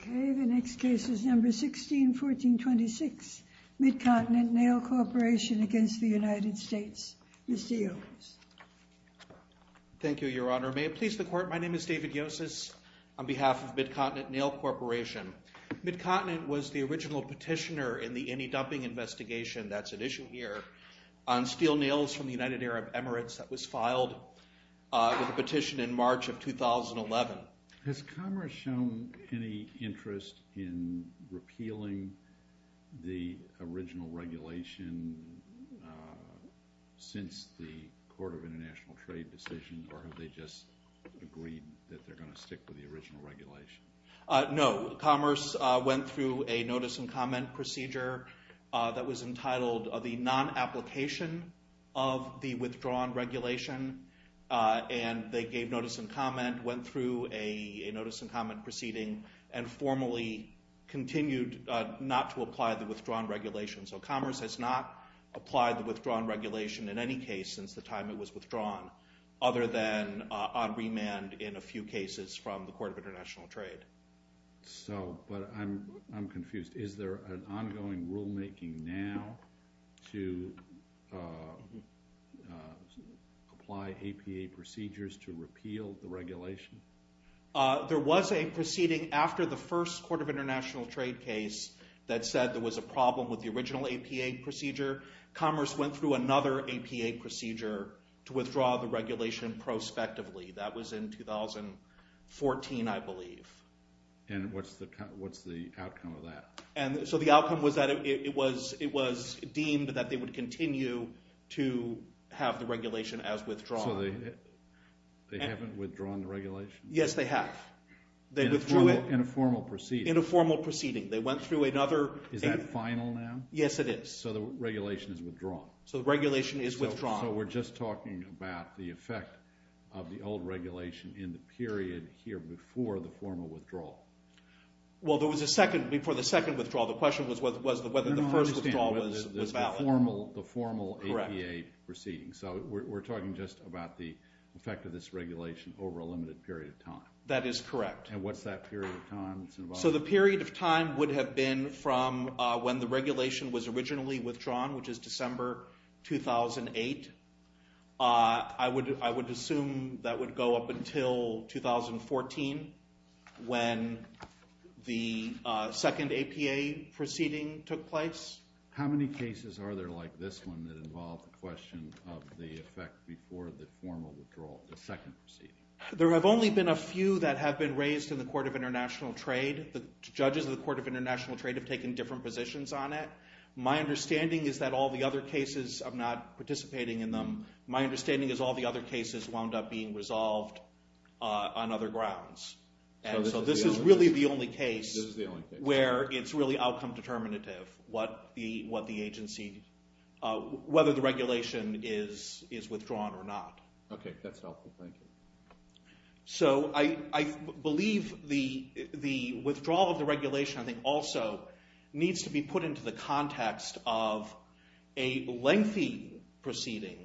Okay, the next case is number 16, 1426, Mid-Continent Nail Corporation against the United States. Mr. Yocas. Thank you, Your Honor. May it please the Court, my name is David Yocas on behalf of Mid-Continent Nail Corporation. Mid-Continent was the original petitioner in the any-dumping investigation that's at issue here on steel nails from the United Arab Emirates that was filed with a petition in March of 2011. Has Commerce shown any interest in repealing the original regulation since the Court of International Trade decision, or have they just agreed that they're going to stick with the original regulation? No, Commerce went through a notice and comment procedure that was entitled the non-application of the withdrawn regulation, and they gave notice and comment, went through a notice and comment proceeding, and formally continued not to apply the withdrawn regulation. So Commerce has not applied the withdrawn regulation in any case since the time it was So, but I'm confused. Is there an ongoing rulemaking now to apply APA procedures to repeal the regulation? There was a proceeding after the first Court of International Trade case that said there was a problem with the original APA procedure. Commerce went through another APA procedure to withdraw the regulation prospectively. That was in 2014, I believe. And what's the outcome of that? And so the outcome was that it was deemed that they would continue to have the regulation as withdrawn. So they haven't withdrawn the regulation? Yes, they have. They withdrew it. In a formal proceeding? In a formal proceeding. They went through another Yes, it is. So the regulation is withdrawn? So the regulation is withdrawn. So we're just talking about the effect of the old regulation in the period here before the formal withdrawal? Well, there was a second, before the second withdrawal, the question was whether the first withdrawal was valid. I don't understand whether the formal APA proceeding. So we're talking just about the effect of this regulation over a limited period of time? That is correct. And what's that period of time? So the period of time would have been from when the regulation was originally withdrawn, which is December 2008. I would assume that would go up until 2014 when the second APA proceeding took place. How many cases are there like this one that involve the question of the effect before the formal withdrawal, the second proceeding? There have only been a few that have been raised in the Court of International Trade. The judges of the Court of International Trade have taken different positions on it. My understanding is that all the other cases, I'm not participating in them, my understanding is all the other cases wound up being resolved on other grounds. And so this is really the only case where it's really outcome determinative what the agency, whether the regulation is withdrawn or not. Okay, that's helpful. Thank you. So I believe the withdrawal of the regulation, I think also, needs to be put into the context of a lengthy proceeding,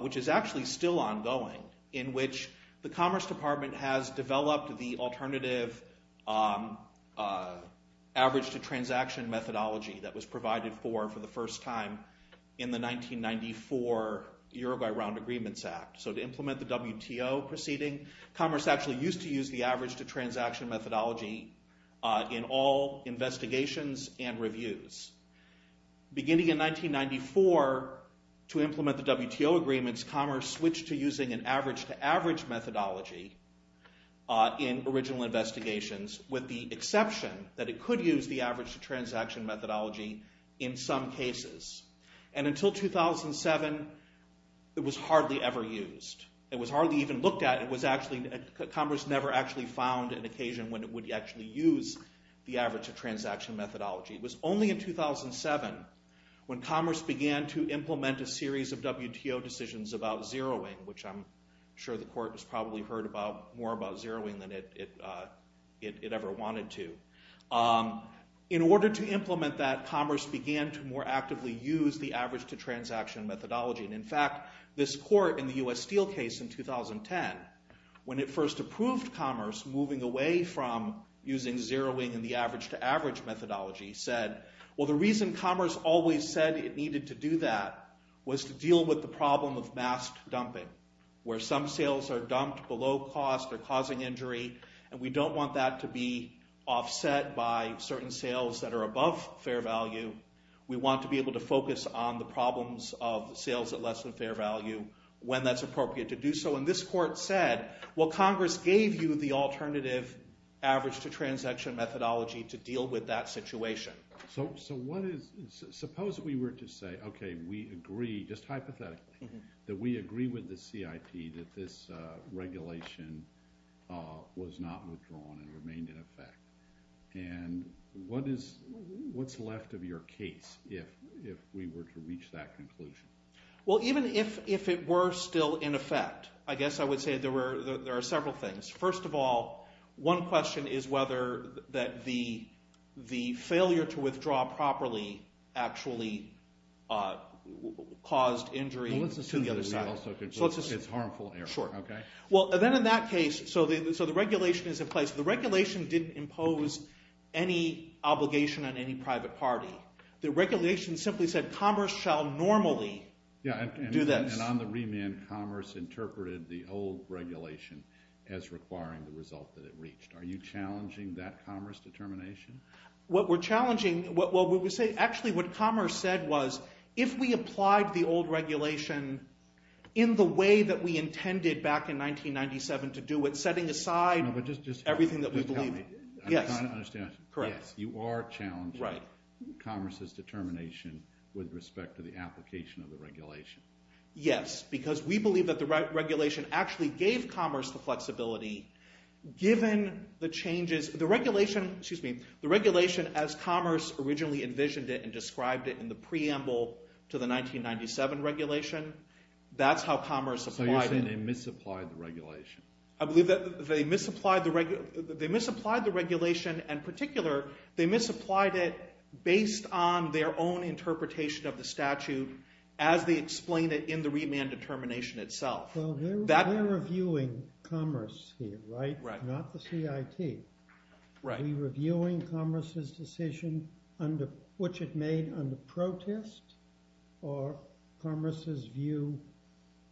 which is actually still ongoing, in which the Commerce Department has developed the alternative average-to-transaction methodology that was provided for for the first time in the 1994 Uruguay Round Agreements Act. So to implement the WTO proceeding, Commerce actually used to use the average-to-transaction methodology in all investigations and reviews. Beginning in 1994, to implement the WTO agreements, Commerce switched to using an average-to-average methodology in original investigations, with the exception that it could use the average-to-transaction methodology in some cases. And until 2007, it was hardly ever used. It was hardly even looked at. Commerce never actually found an occasion when it would actually use the average-to-transaction methodology. It was only in 2007 when Commerce began to implement a series of WTO decisions about zeroing, which I'm sure the Court has probably heard more about zeroing than it ever wanted to. In order to implement that, Commerce began to more actively use the average-to-transaction methodology. And in fact, this Court in the U.S. Steel case in 2010, when it first approved Commerce moving away from using zeroing and the average-to-average methodology, said, well, the reason Commerce always said it needed to do that was to deal with the problem of masked dumping, where some sales are dumped below cost or causing injury, and we don't want that to be offset by certain sales that are above fair value. We want to be able to focus on the problems of sales at less than fair value when that's appropriate to do so. And this Court said, well, Congress gave you the alternative average-to-transaction methodology to deal with that situation. So suppose we were to say, okay, we agree, just hypothetically, that we agree with the CIP that this regulation was not withdrawn and remained in effect. And what's left of your case, if we were to reach that conclusion? Well, even if it were still in effect, I guess I would say there are several things. First of all, one question is whether the failure to withdraw properly actually caused injury to the other side. Well, let's assume that we also concluded it's harmful error. Well, then in that case, so the regulation is in place. The regulation didn't impose any obligation on any private party. The regulation simply said, commerce shall normally do this. And on the remand, commerce interpreted the old regulation as requiring the result that it reached. Are you challenging that commerce determination? What we're challenging... Actually, what commerce said was, if we applied the old regulation in the way that we intended back in 1997 to do it, setting aside everything that we believe... No, but just tell me. Yes. I'm trying to understand. Correct. Yes, you are challenging commerce's determination with respect to the application of the regulation. Yes, because we believe that the regulation actually gave commerce the flexibility, given the changes... The regulation, as commerce originally envisioned it and described it in the preamble to the 1997 regulation, that's how commerce applied it. So you're saying they misapplied the regulation. I believe that they misapplied the regulation, and in particular, they misapplied it based on their own interpretation of the statute as they explain it in the remand determination itself. Well, we're reviewing commerce here, right? Right. Not the CIT. Right. Are we reviewing commerce's decision, which it made under protest, or commerce's view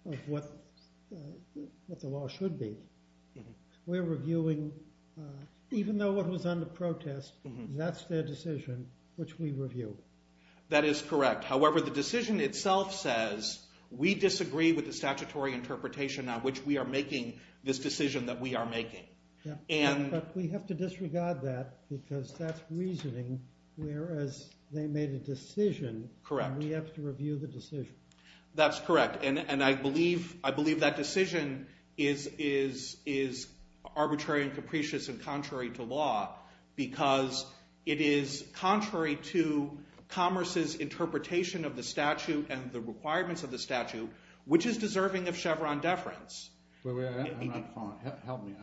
of what the law should be? We're reviewing, even though it was under protest, that's their decision, which we review. That is correct. However, the decision itself says, we disagree with the statutory interpretation on which we are making this decision that we are making. But we have to disregard that, because that's reasoning, whereas they made a decision... Correct. And we have to review the decision. That's correct. And I believe that decision is arbitrary and capricious and contrary to law, because it is contrary to commerce's interpretation of the statute and the requirements of the statute, which is deserving of Chevron deference. Help me. I'm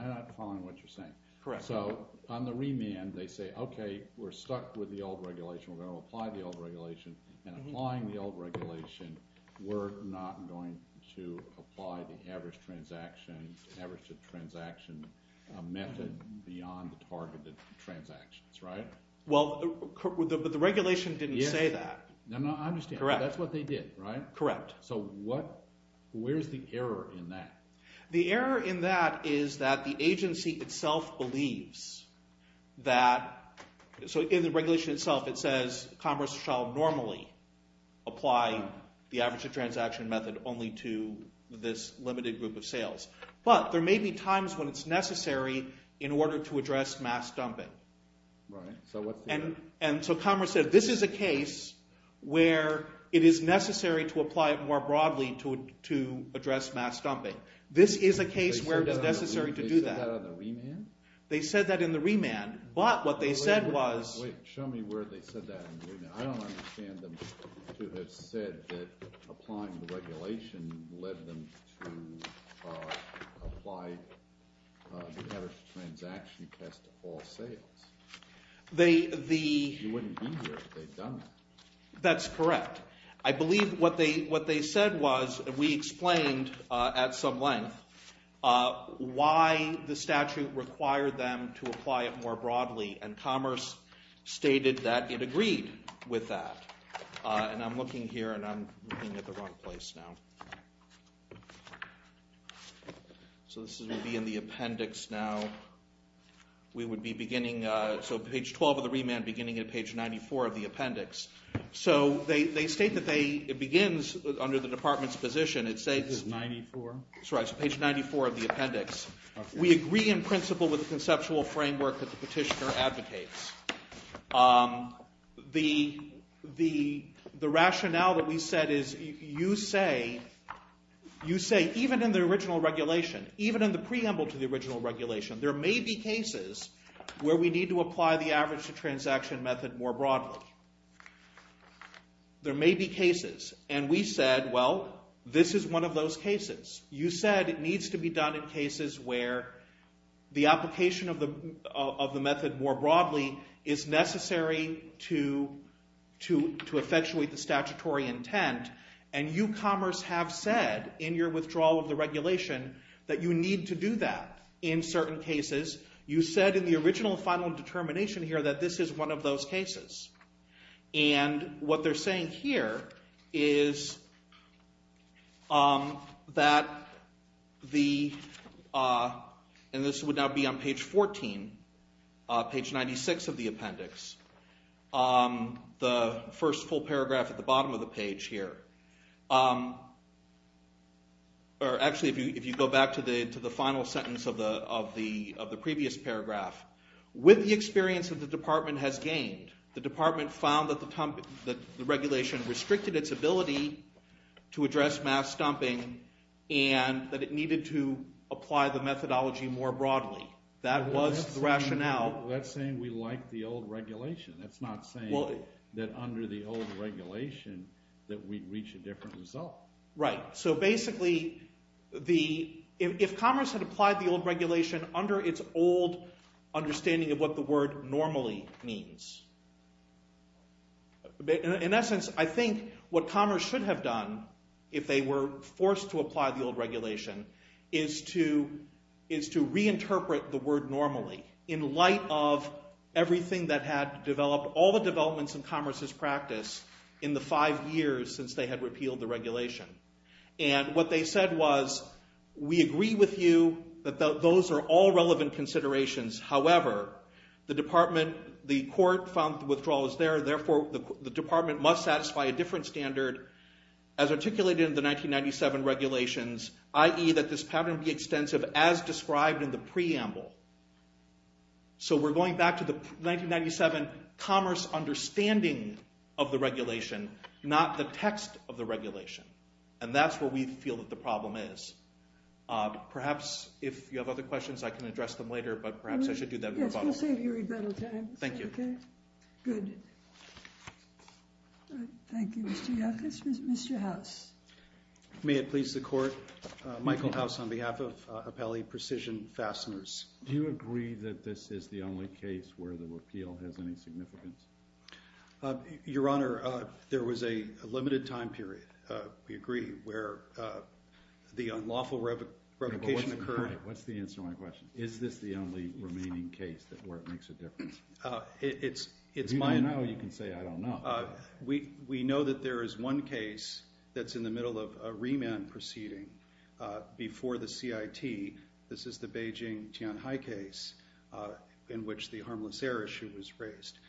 not following what you're saying. Correct. So on the remand, they say, OK, we're stuck with the old regulation. We're going to apply the old regulation. And applying the old regulation, we're not going to apply the average transaction method beyond the targeted transactions, right? Well, but the regulation didn't say that. No, no, I understand. Correct. That's what they did, right? Correct. So where's the error in that? The error in that is that the agency itself believes that... So in the regulation itself, it says commerce shall normally apply the average transaction method only to this limited group of sales. But there may be times when it's necessary in order to address mass dumping. Right. And so commerce said, this is a case where it is necessary to apply it more broadly to address mass dumping. This is a case where it is necessary to do that. They said that on the remand? They said that in the remand. But what they said was... Wait, show me where they said that in the remand. I don't understand them to have said that applying the regulation led them to apply the average transaction test to all sales. They... You wouldn't be here if they'd done that. That's correct. I believe what they said was, we explained at some length why the statute required them to apply it more broadly. And commerce stated that it agreed with that. And I'm looking here and I'm looking at the wrong place now. So this would be in the appendix now. We would be beginning... So page 12 of the remand beginning at page 94 of the appendix. So they state that they... It begins under the department's position. It says... Page 94? That's right. So page 94 of the appendix. We agree in principle with the conceptual framework that the petitioner advocates. The rationale that we said is, you say even in the original regulation, even in the preamble to the original regulation, there may be cases where we need to apply the average transaction method more broadly. There may be cases. And we said, well, this is one of those cases. You said it needs to be done in cases where the application of the method more broadly is necessary to effectuate the statutory intent. And you, commerce, have said in your withdrawal of the regulation that you need to do that in certain cases. You said in the original final determination here that this is one of those cases. And what they're saying here is that the... And this would now be on page 14, page 96 of the appendix. The first full paragraph at the bottom of the page here. Or actually, if you go back to the final sentence of the previous paragraph. With the experience that the department has gained, the department found that the regulation restricted its ability to address mass dumping and that it needed to apply the methodology more broadly. That was the rationale. That's saying we like the old regulation. That's not saying that under the old regulation that we'd reach a different result. Right. So basically, if commerce had applied the old regulation under its old understanding of what the word normally means, in essence, I think what commerce should have done if they were forced to apply the old regulation is to reinterpret the word normally in light of everything that had developed, all the developments in commerce's practice in the five years since they had repealed the regulation. And what they said was, we agree with you that those are all relevant considerations. However, the department, the court, found the withdrawal was there. Therefore, the department must satisfy a different standard as articulated in the 1997 regulations, i.e., that this pattern be extensive as described in the preamble. So we're going back to the 1997 commerce understanding of the regulation, not the text of the regulation. And that's where we feel that the problem is. Perhaps, if you have other questions, I can address them later, but perhaps I should do that in rebuttal. Yes, we'll save you rebuttal time. Thank you. Good. Thank you, Mr. Yackas. Mr. House. May it please the Court, Michael House on behalf of Appellee Precision Fasteners. Do you agree that this is the only case where the repeal has any significance? Your Honor, there was a limited time period, we agree, where the unlawful revocation occurred. What's the answer to my question? Is this the only remaining case where it makes a difference? It's my... If you don't know, you can say, I don't know. We know that there is one case that's in the middle of a remand proceeding before the CIT. This is the Beijing Tianhai case in which the harmless air issue was raised.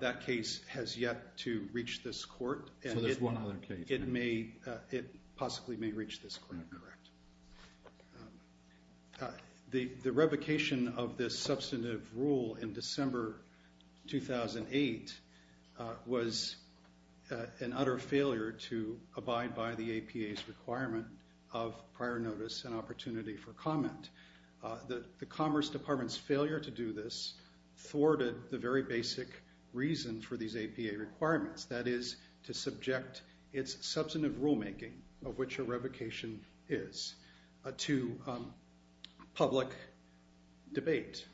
That case has yet to reach this court. So there's one other case. It may, it possibly may reach this court. Correct. The revocation of this substantive rule in December 2008 was an utter failure to abide by the APA's requirement of prior notice and opportunity for comment. The Commerce Department's failure to do this thwarted the very basic reason for these APA requirements. That is, to subject its substantive rulemaking of which a revocation is to public debate.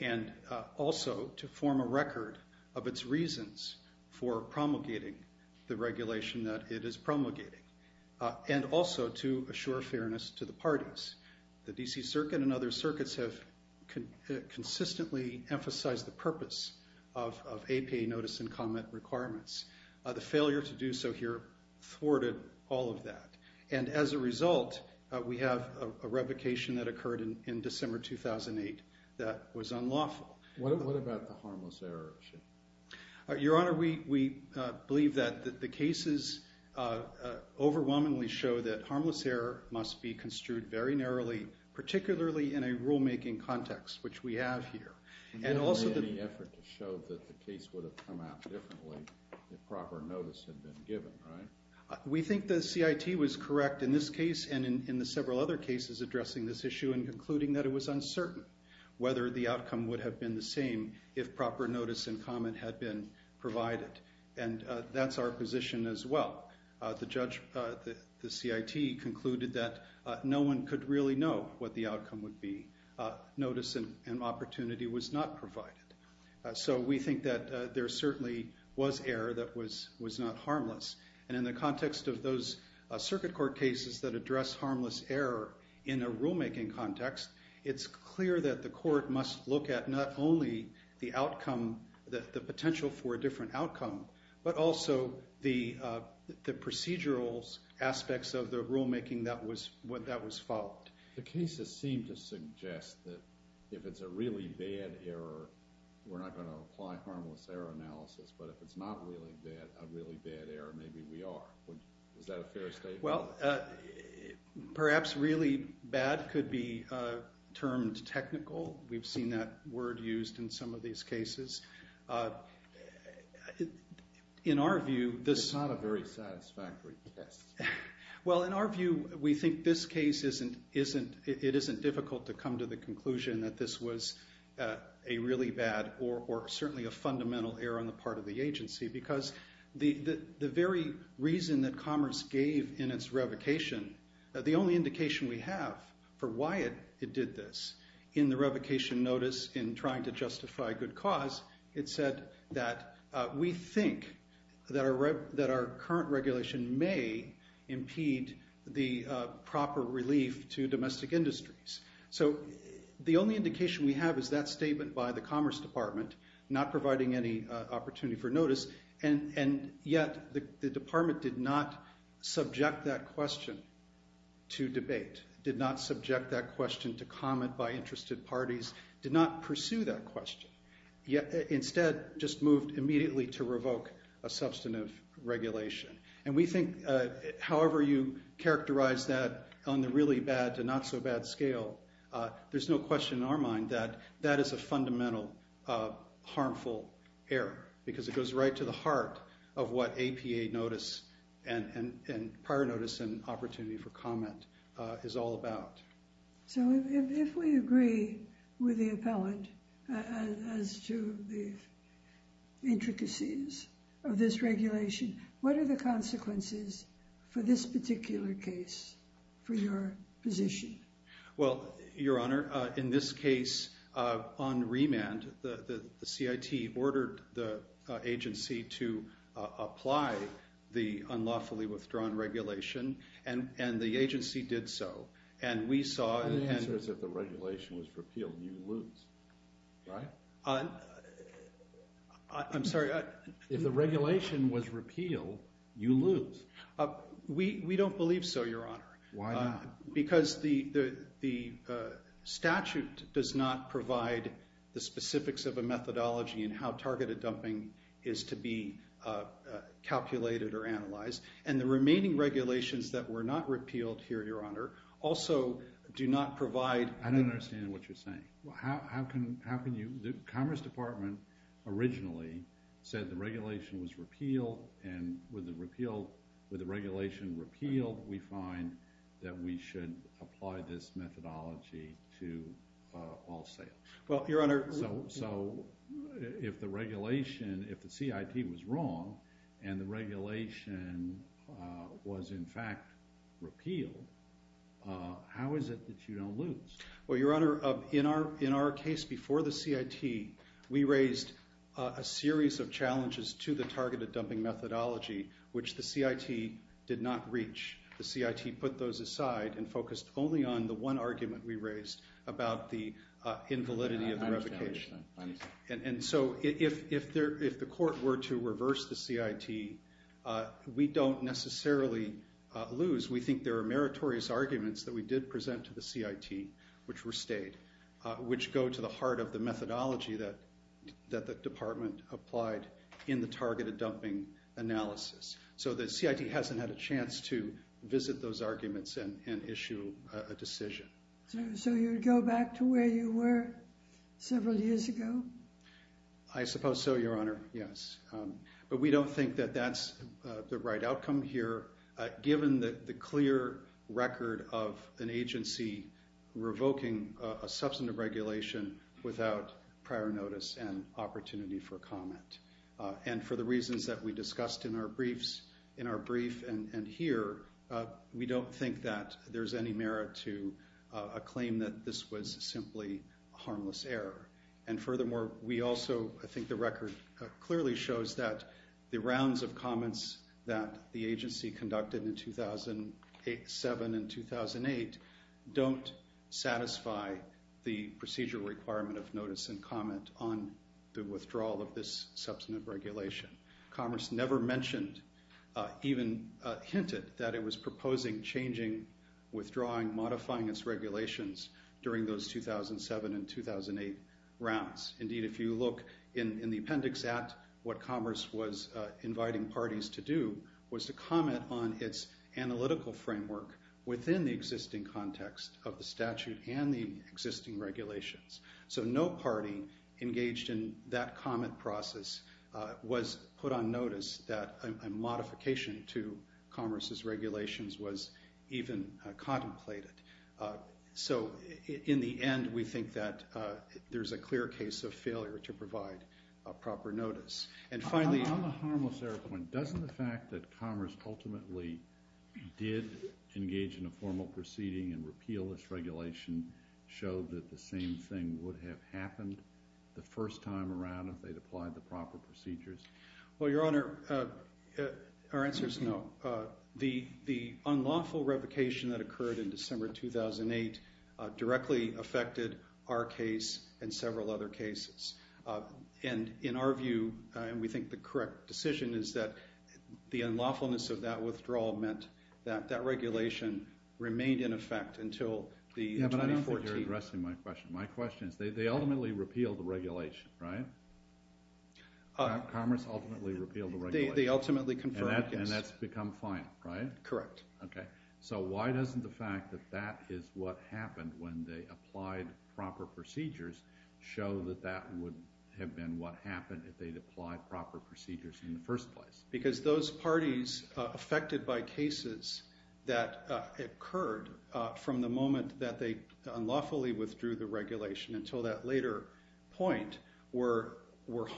And also, to form a record of its reasons for promulgating the regulation that it is promulgating. And also, to assure fairness to the parties. The D.C. Circuit and other circuits have consistently emphasized the purpose of APA notice and comment requirements. The failure to do so here thwarted all of that. And as a result, we have a revocation that occurred in December 2008 that was unlawful. What about the harmless error issue? Your Honor, we believe that the cases overwhelmingly show that harmless error must be construed very narrowly, particularly in a rulemaking context, which we have here. And also... We didn't make any effort to show that the case would have come out differently if proper notice had been given, right? We think the CIT was correct in this case and in the several other cases addressing this issue and concluding that it was uncertain whether the outcome would have been the same if proper notice and comment had been provided. And that's our position as well. The judge, the CIT, concluded that no one could really know what the outcome would be. Notice and opportunity was not provided. So we think that there certainly was error that was not harmless. And in the context of those circuit court cases that address harmless error in a rulemaking context, it's clear that the court must look at not only the outcome, the potential for a different outcome, but also the procedural aspects of the rulemaking that was followed. The cases seem to suggest that if it's a really bad error, we're not going to apply harmless error analysis. But if it's not a really bad error, maybe we are. Is that a fair statement? Well, perhaps really bad could be termed technical. We've seen that word used in some of these cases. In our view, this is not a very satisfactory test. Well, in our view, we think this case isn't difficult to come to the conclusion that this was a really bad or certainly a fundamental error on the part of the agency because the very reason that Commerce gave in its revocation, the only indication we have for why it did this in the revocation notice in trying to justify good cause, it said that we think that our current regulation may impede the proper relief to domestic industries. So the only indication we have is that statement by the Commerce Department not providing any opportunity for notice and yet the Department did not subject that question to debate, did not subject that question to comment by interested parties, did not pursue that question, yet instead just moved immediately to revoke a substantive regulation. And we think however you characterize that on the really bad to not so bad scale, there's no question in our mind that that is a fundamental harmful error because it goes right to the heart of what APA notice and prior notice and opportunity for comment is all about. So if we agree with the appellant as to the intricacies of this regulation, what are the consequences for this particular case for your position? Well, Your Honor, in this case on remand the CIT ordered the agency to apply the unlawfully withdrawn regulation and the agency did so. And we saw... The answer is if the regulation was repealed you lose, right? I'm sorry... If the regulation was repealed you lose. We don't believe so, Your Honor. Why not? Because the CIT has determined how targeted dumping is to be calculated and the remaining regulations that were not repealed here, Your Honor, also do not provide... I don't understand what you're saying. How can you... The Commerce Department originally said the regulation was repealed and with the regulation repealed we find that we should apply this methodology to all sales. Well, Your Honor... So, if the regulation, if the CIT was wrong and the regulation was in fact repealed how is it that you don't lose? Well, Your Honor, in our targeted dumping methodology which the CIT did not reach the CIT put those aside and focused only on the one argument we raised about the invalidity of the revocation. And so, if the Court were to reverse the CIT we don't necessarily lose. We think there are meritorious arguments that we did present to the CIT which were stayed which go to the heart of the methodology that the department applied in the targeted dumping analysis. So, the CIT hasn't had a chance to visit those arguments and issue a decision. So, you would go back to where you were several years ago? I suppose so, Your Honor, yes. But we don't think that that's the right outcome here given the clear record of an agency revoking a substantive regulation without prior notice and opportunity for comment. And for the reasons that we discussed in our brief and here, we don't think that there's any merit to a claim that this was simply harmless error. And furthermore, we also think the record clearly shows that the rounds of comments that the agency conducted in 2007 and 2008 don't satisfy the procedure requirement of notice and comment on the withdrawal of this substantive regulation. Commerce never mentioned even hinted that it was proposing changing withdrawing and modifying its regulations during those 2007 and 2008 rounds. Indeed, if you look in the appendix at what Commerce was inviting parties to do was to comment on its analytical framework within the existing context of the statute and the existing regulations. So no party engaged in that comment process was put on notice that a modification to Commerce's regulations was even contemplated. So, in the end, we think that there's a clear case of failure to provide proper notice. And finally... On the harmless point, doesn't the fact that Commerce ultimately did engage in a formal proceeding and repeal this regulation show that the same thing would have happened the first time? And, in our view, and we think the correct decision is that unlawfulness of that withdrawal meant that that regulation remained in effect until the 2014... Yeah, but I don't think you're addressing my question. My question is, okay, so why doesn't the fact that that is what happened when they applied proper procedures show that that would have been what happened if they applied proper procedures in the first place? Because those parties affected by cases that occurred from the moment that they unlawfully withdrew the regulation until that later point were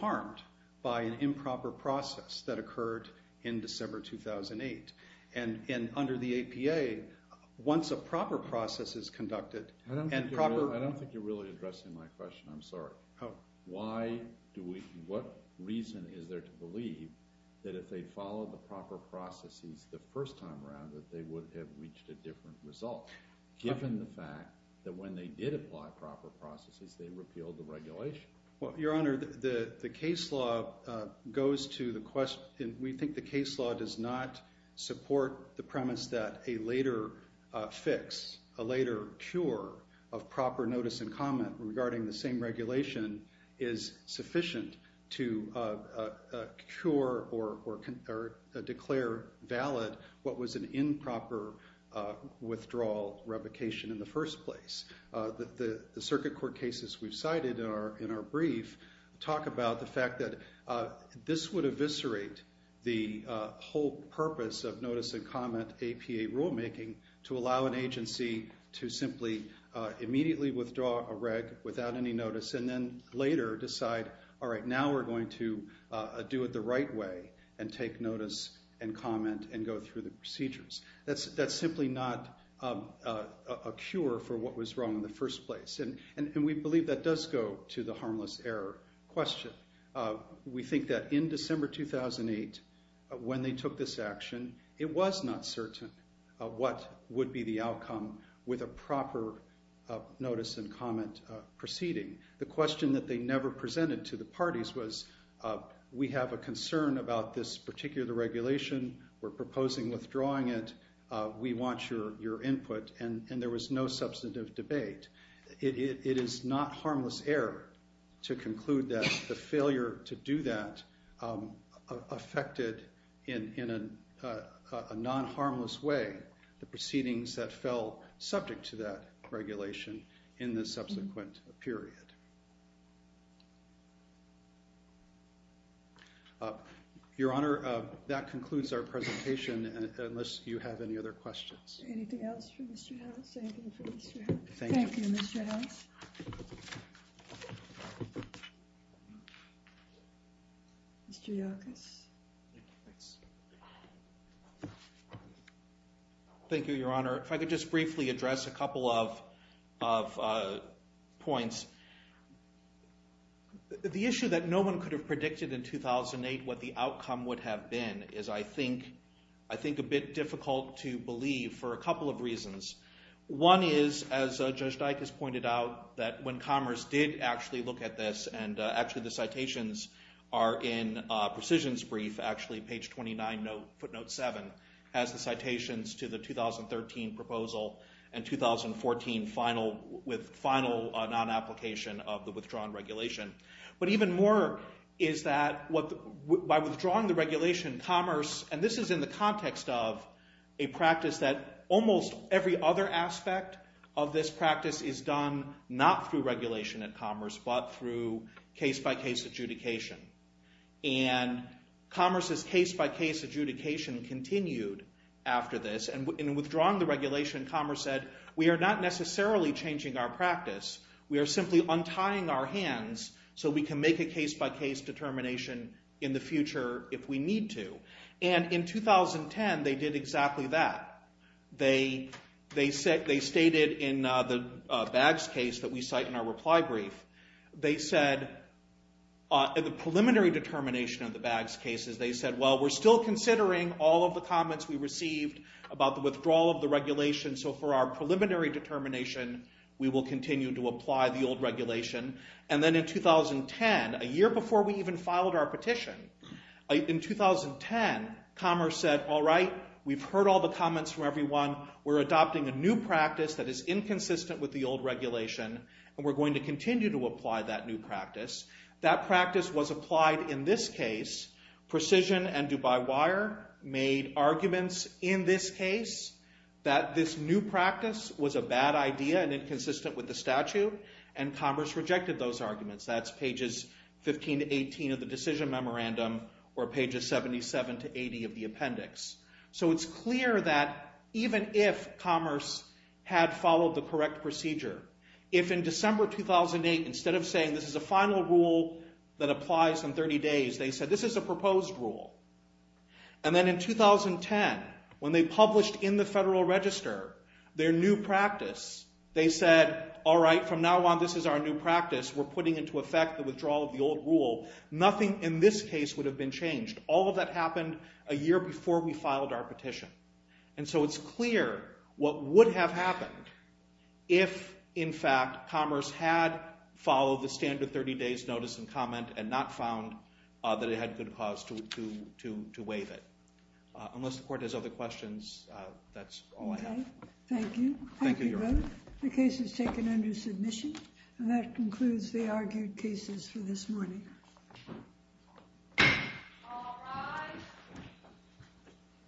harmed by an improper process that happened place. So my question is, is there to believe that if they followed the proper processes the first time around that they would have reached a cure or declare valid what was an improper withdrawal revocation in the first place? The circuit court cases we've cited in our brief talk about the fact that this would eviscerate the whole purpose of notice and comment rule making to allow an agency to withdraw a reg without any notice and later decide now we're going to do it the right way and take notice and comment and go through the procedures that's simply not a cure for what was wrong in the first place and we believe that does go to the harmless error question we think that in December 2008 when they took this action it was not certain what would be the outcome with a proper notice and comment proceeding the question they never presented to the parties was we have a concern about this particular regulation we're proposing withdrawing it we want your input and there was no substantive debate it is not harmless error to conclude that the failure to do that affected in a non-harmless way the proceedings that fell subject to that regulation in the subsequent period your honor that concludes our unless you have any other questions thank you thank you thank you your honor if I could just briefly address a couple of points the issue that no one could have predicted in 2008 what the outcome would have been is I think I think a bit difficult to believe for a couple of reasons one is as we look at this and actually the citations are in precision brief page 29 footnote 7 has the citations to the 2013 proposal and 2014 final with final non application of the withdrawn regulation but even more is that what by withdrawing the regulation commerce and this is in the context of a practice that almost every other aspect of our practice and in withdrawing the regulation commerce said we are not necessarily changing our practice we are simply untying our hands so we can make a case by case determination in the future if we need to and in 2010 they did exactly that they stated in the BAGS case they said the preliminary determination of the BAGS case they said we are still considering all of the comments we are adopting a new practice that is inconsistent with the old regulation we are going to continue to apply that new practice that practice was applied in this case precision and Dubai Wire made arguments in this case that this new practice was a bad idea and inconsistent with the statute and commerce rejected those arguments that is pages 15 to 18 of the decision memorandum or pages 77 to 80 of the appendix so it's clear that even if commerce had followed the correct procedure if in December 2008 instead of saying this is a final rule that applies in 30 days they said this is a proposed rule and then in 2010 when they published in the Federal Register their new practice they said all right from now on this is our new practice we're putting into effect the withdrawal of the old rule nothing in this case would have been changed all of that happened a year before we filed our petition and so it's clear what would have happened if in fact commerce had followed the standard 30 days notice and comment and not found that it had good cause to waive it unless the court has other questions that's all I have thank you the case is taken under submission and that concludes the argued cases for this morning thank you all of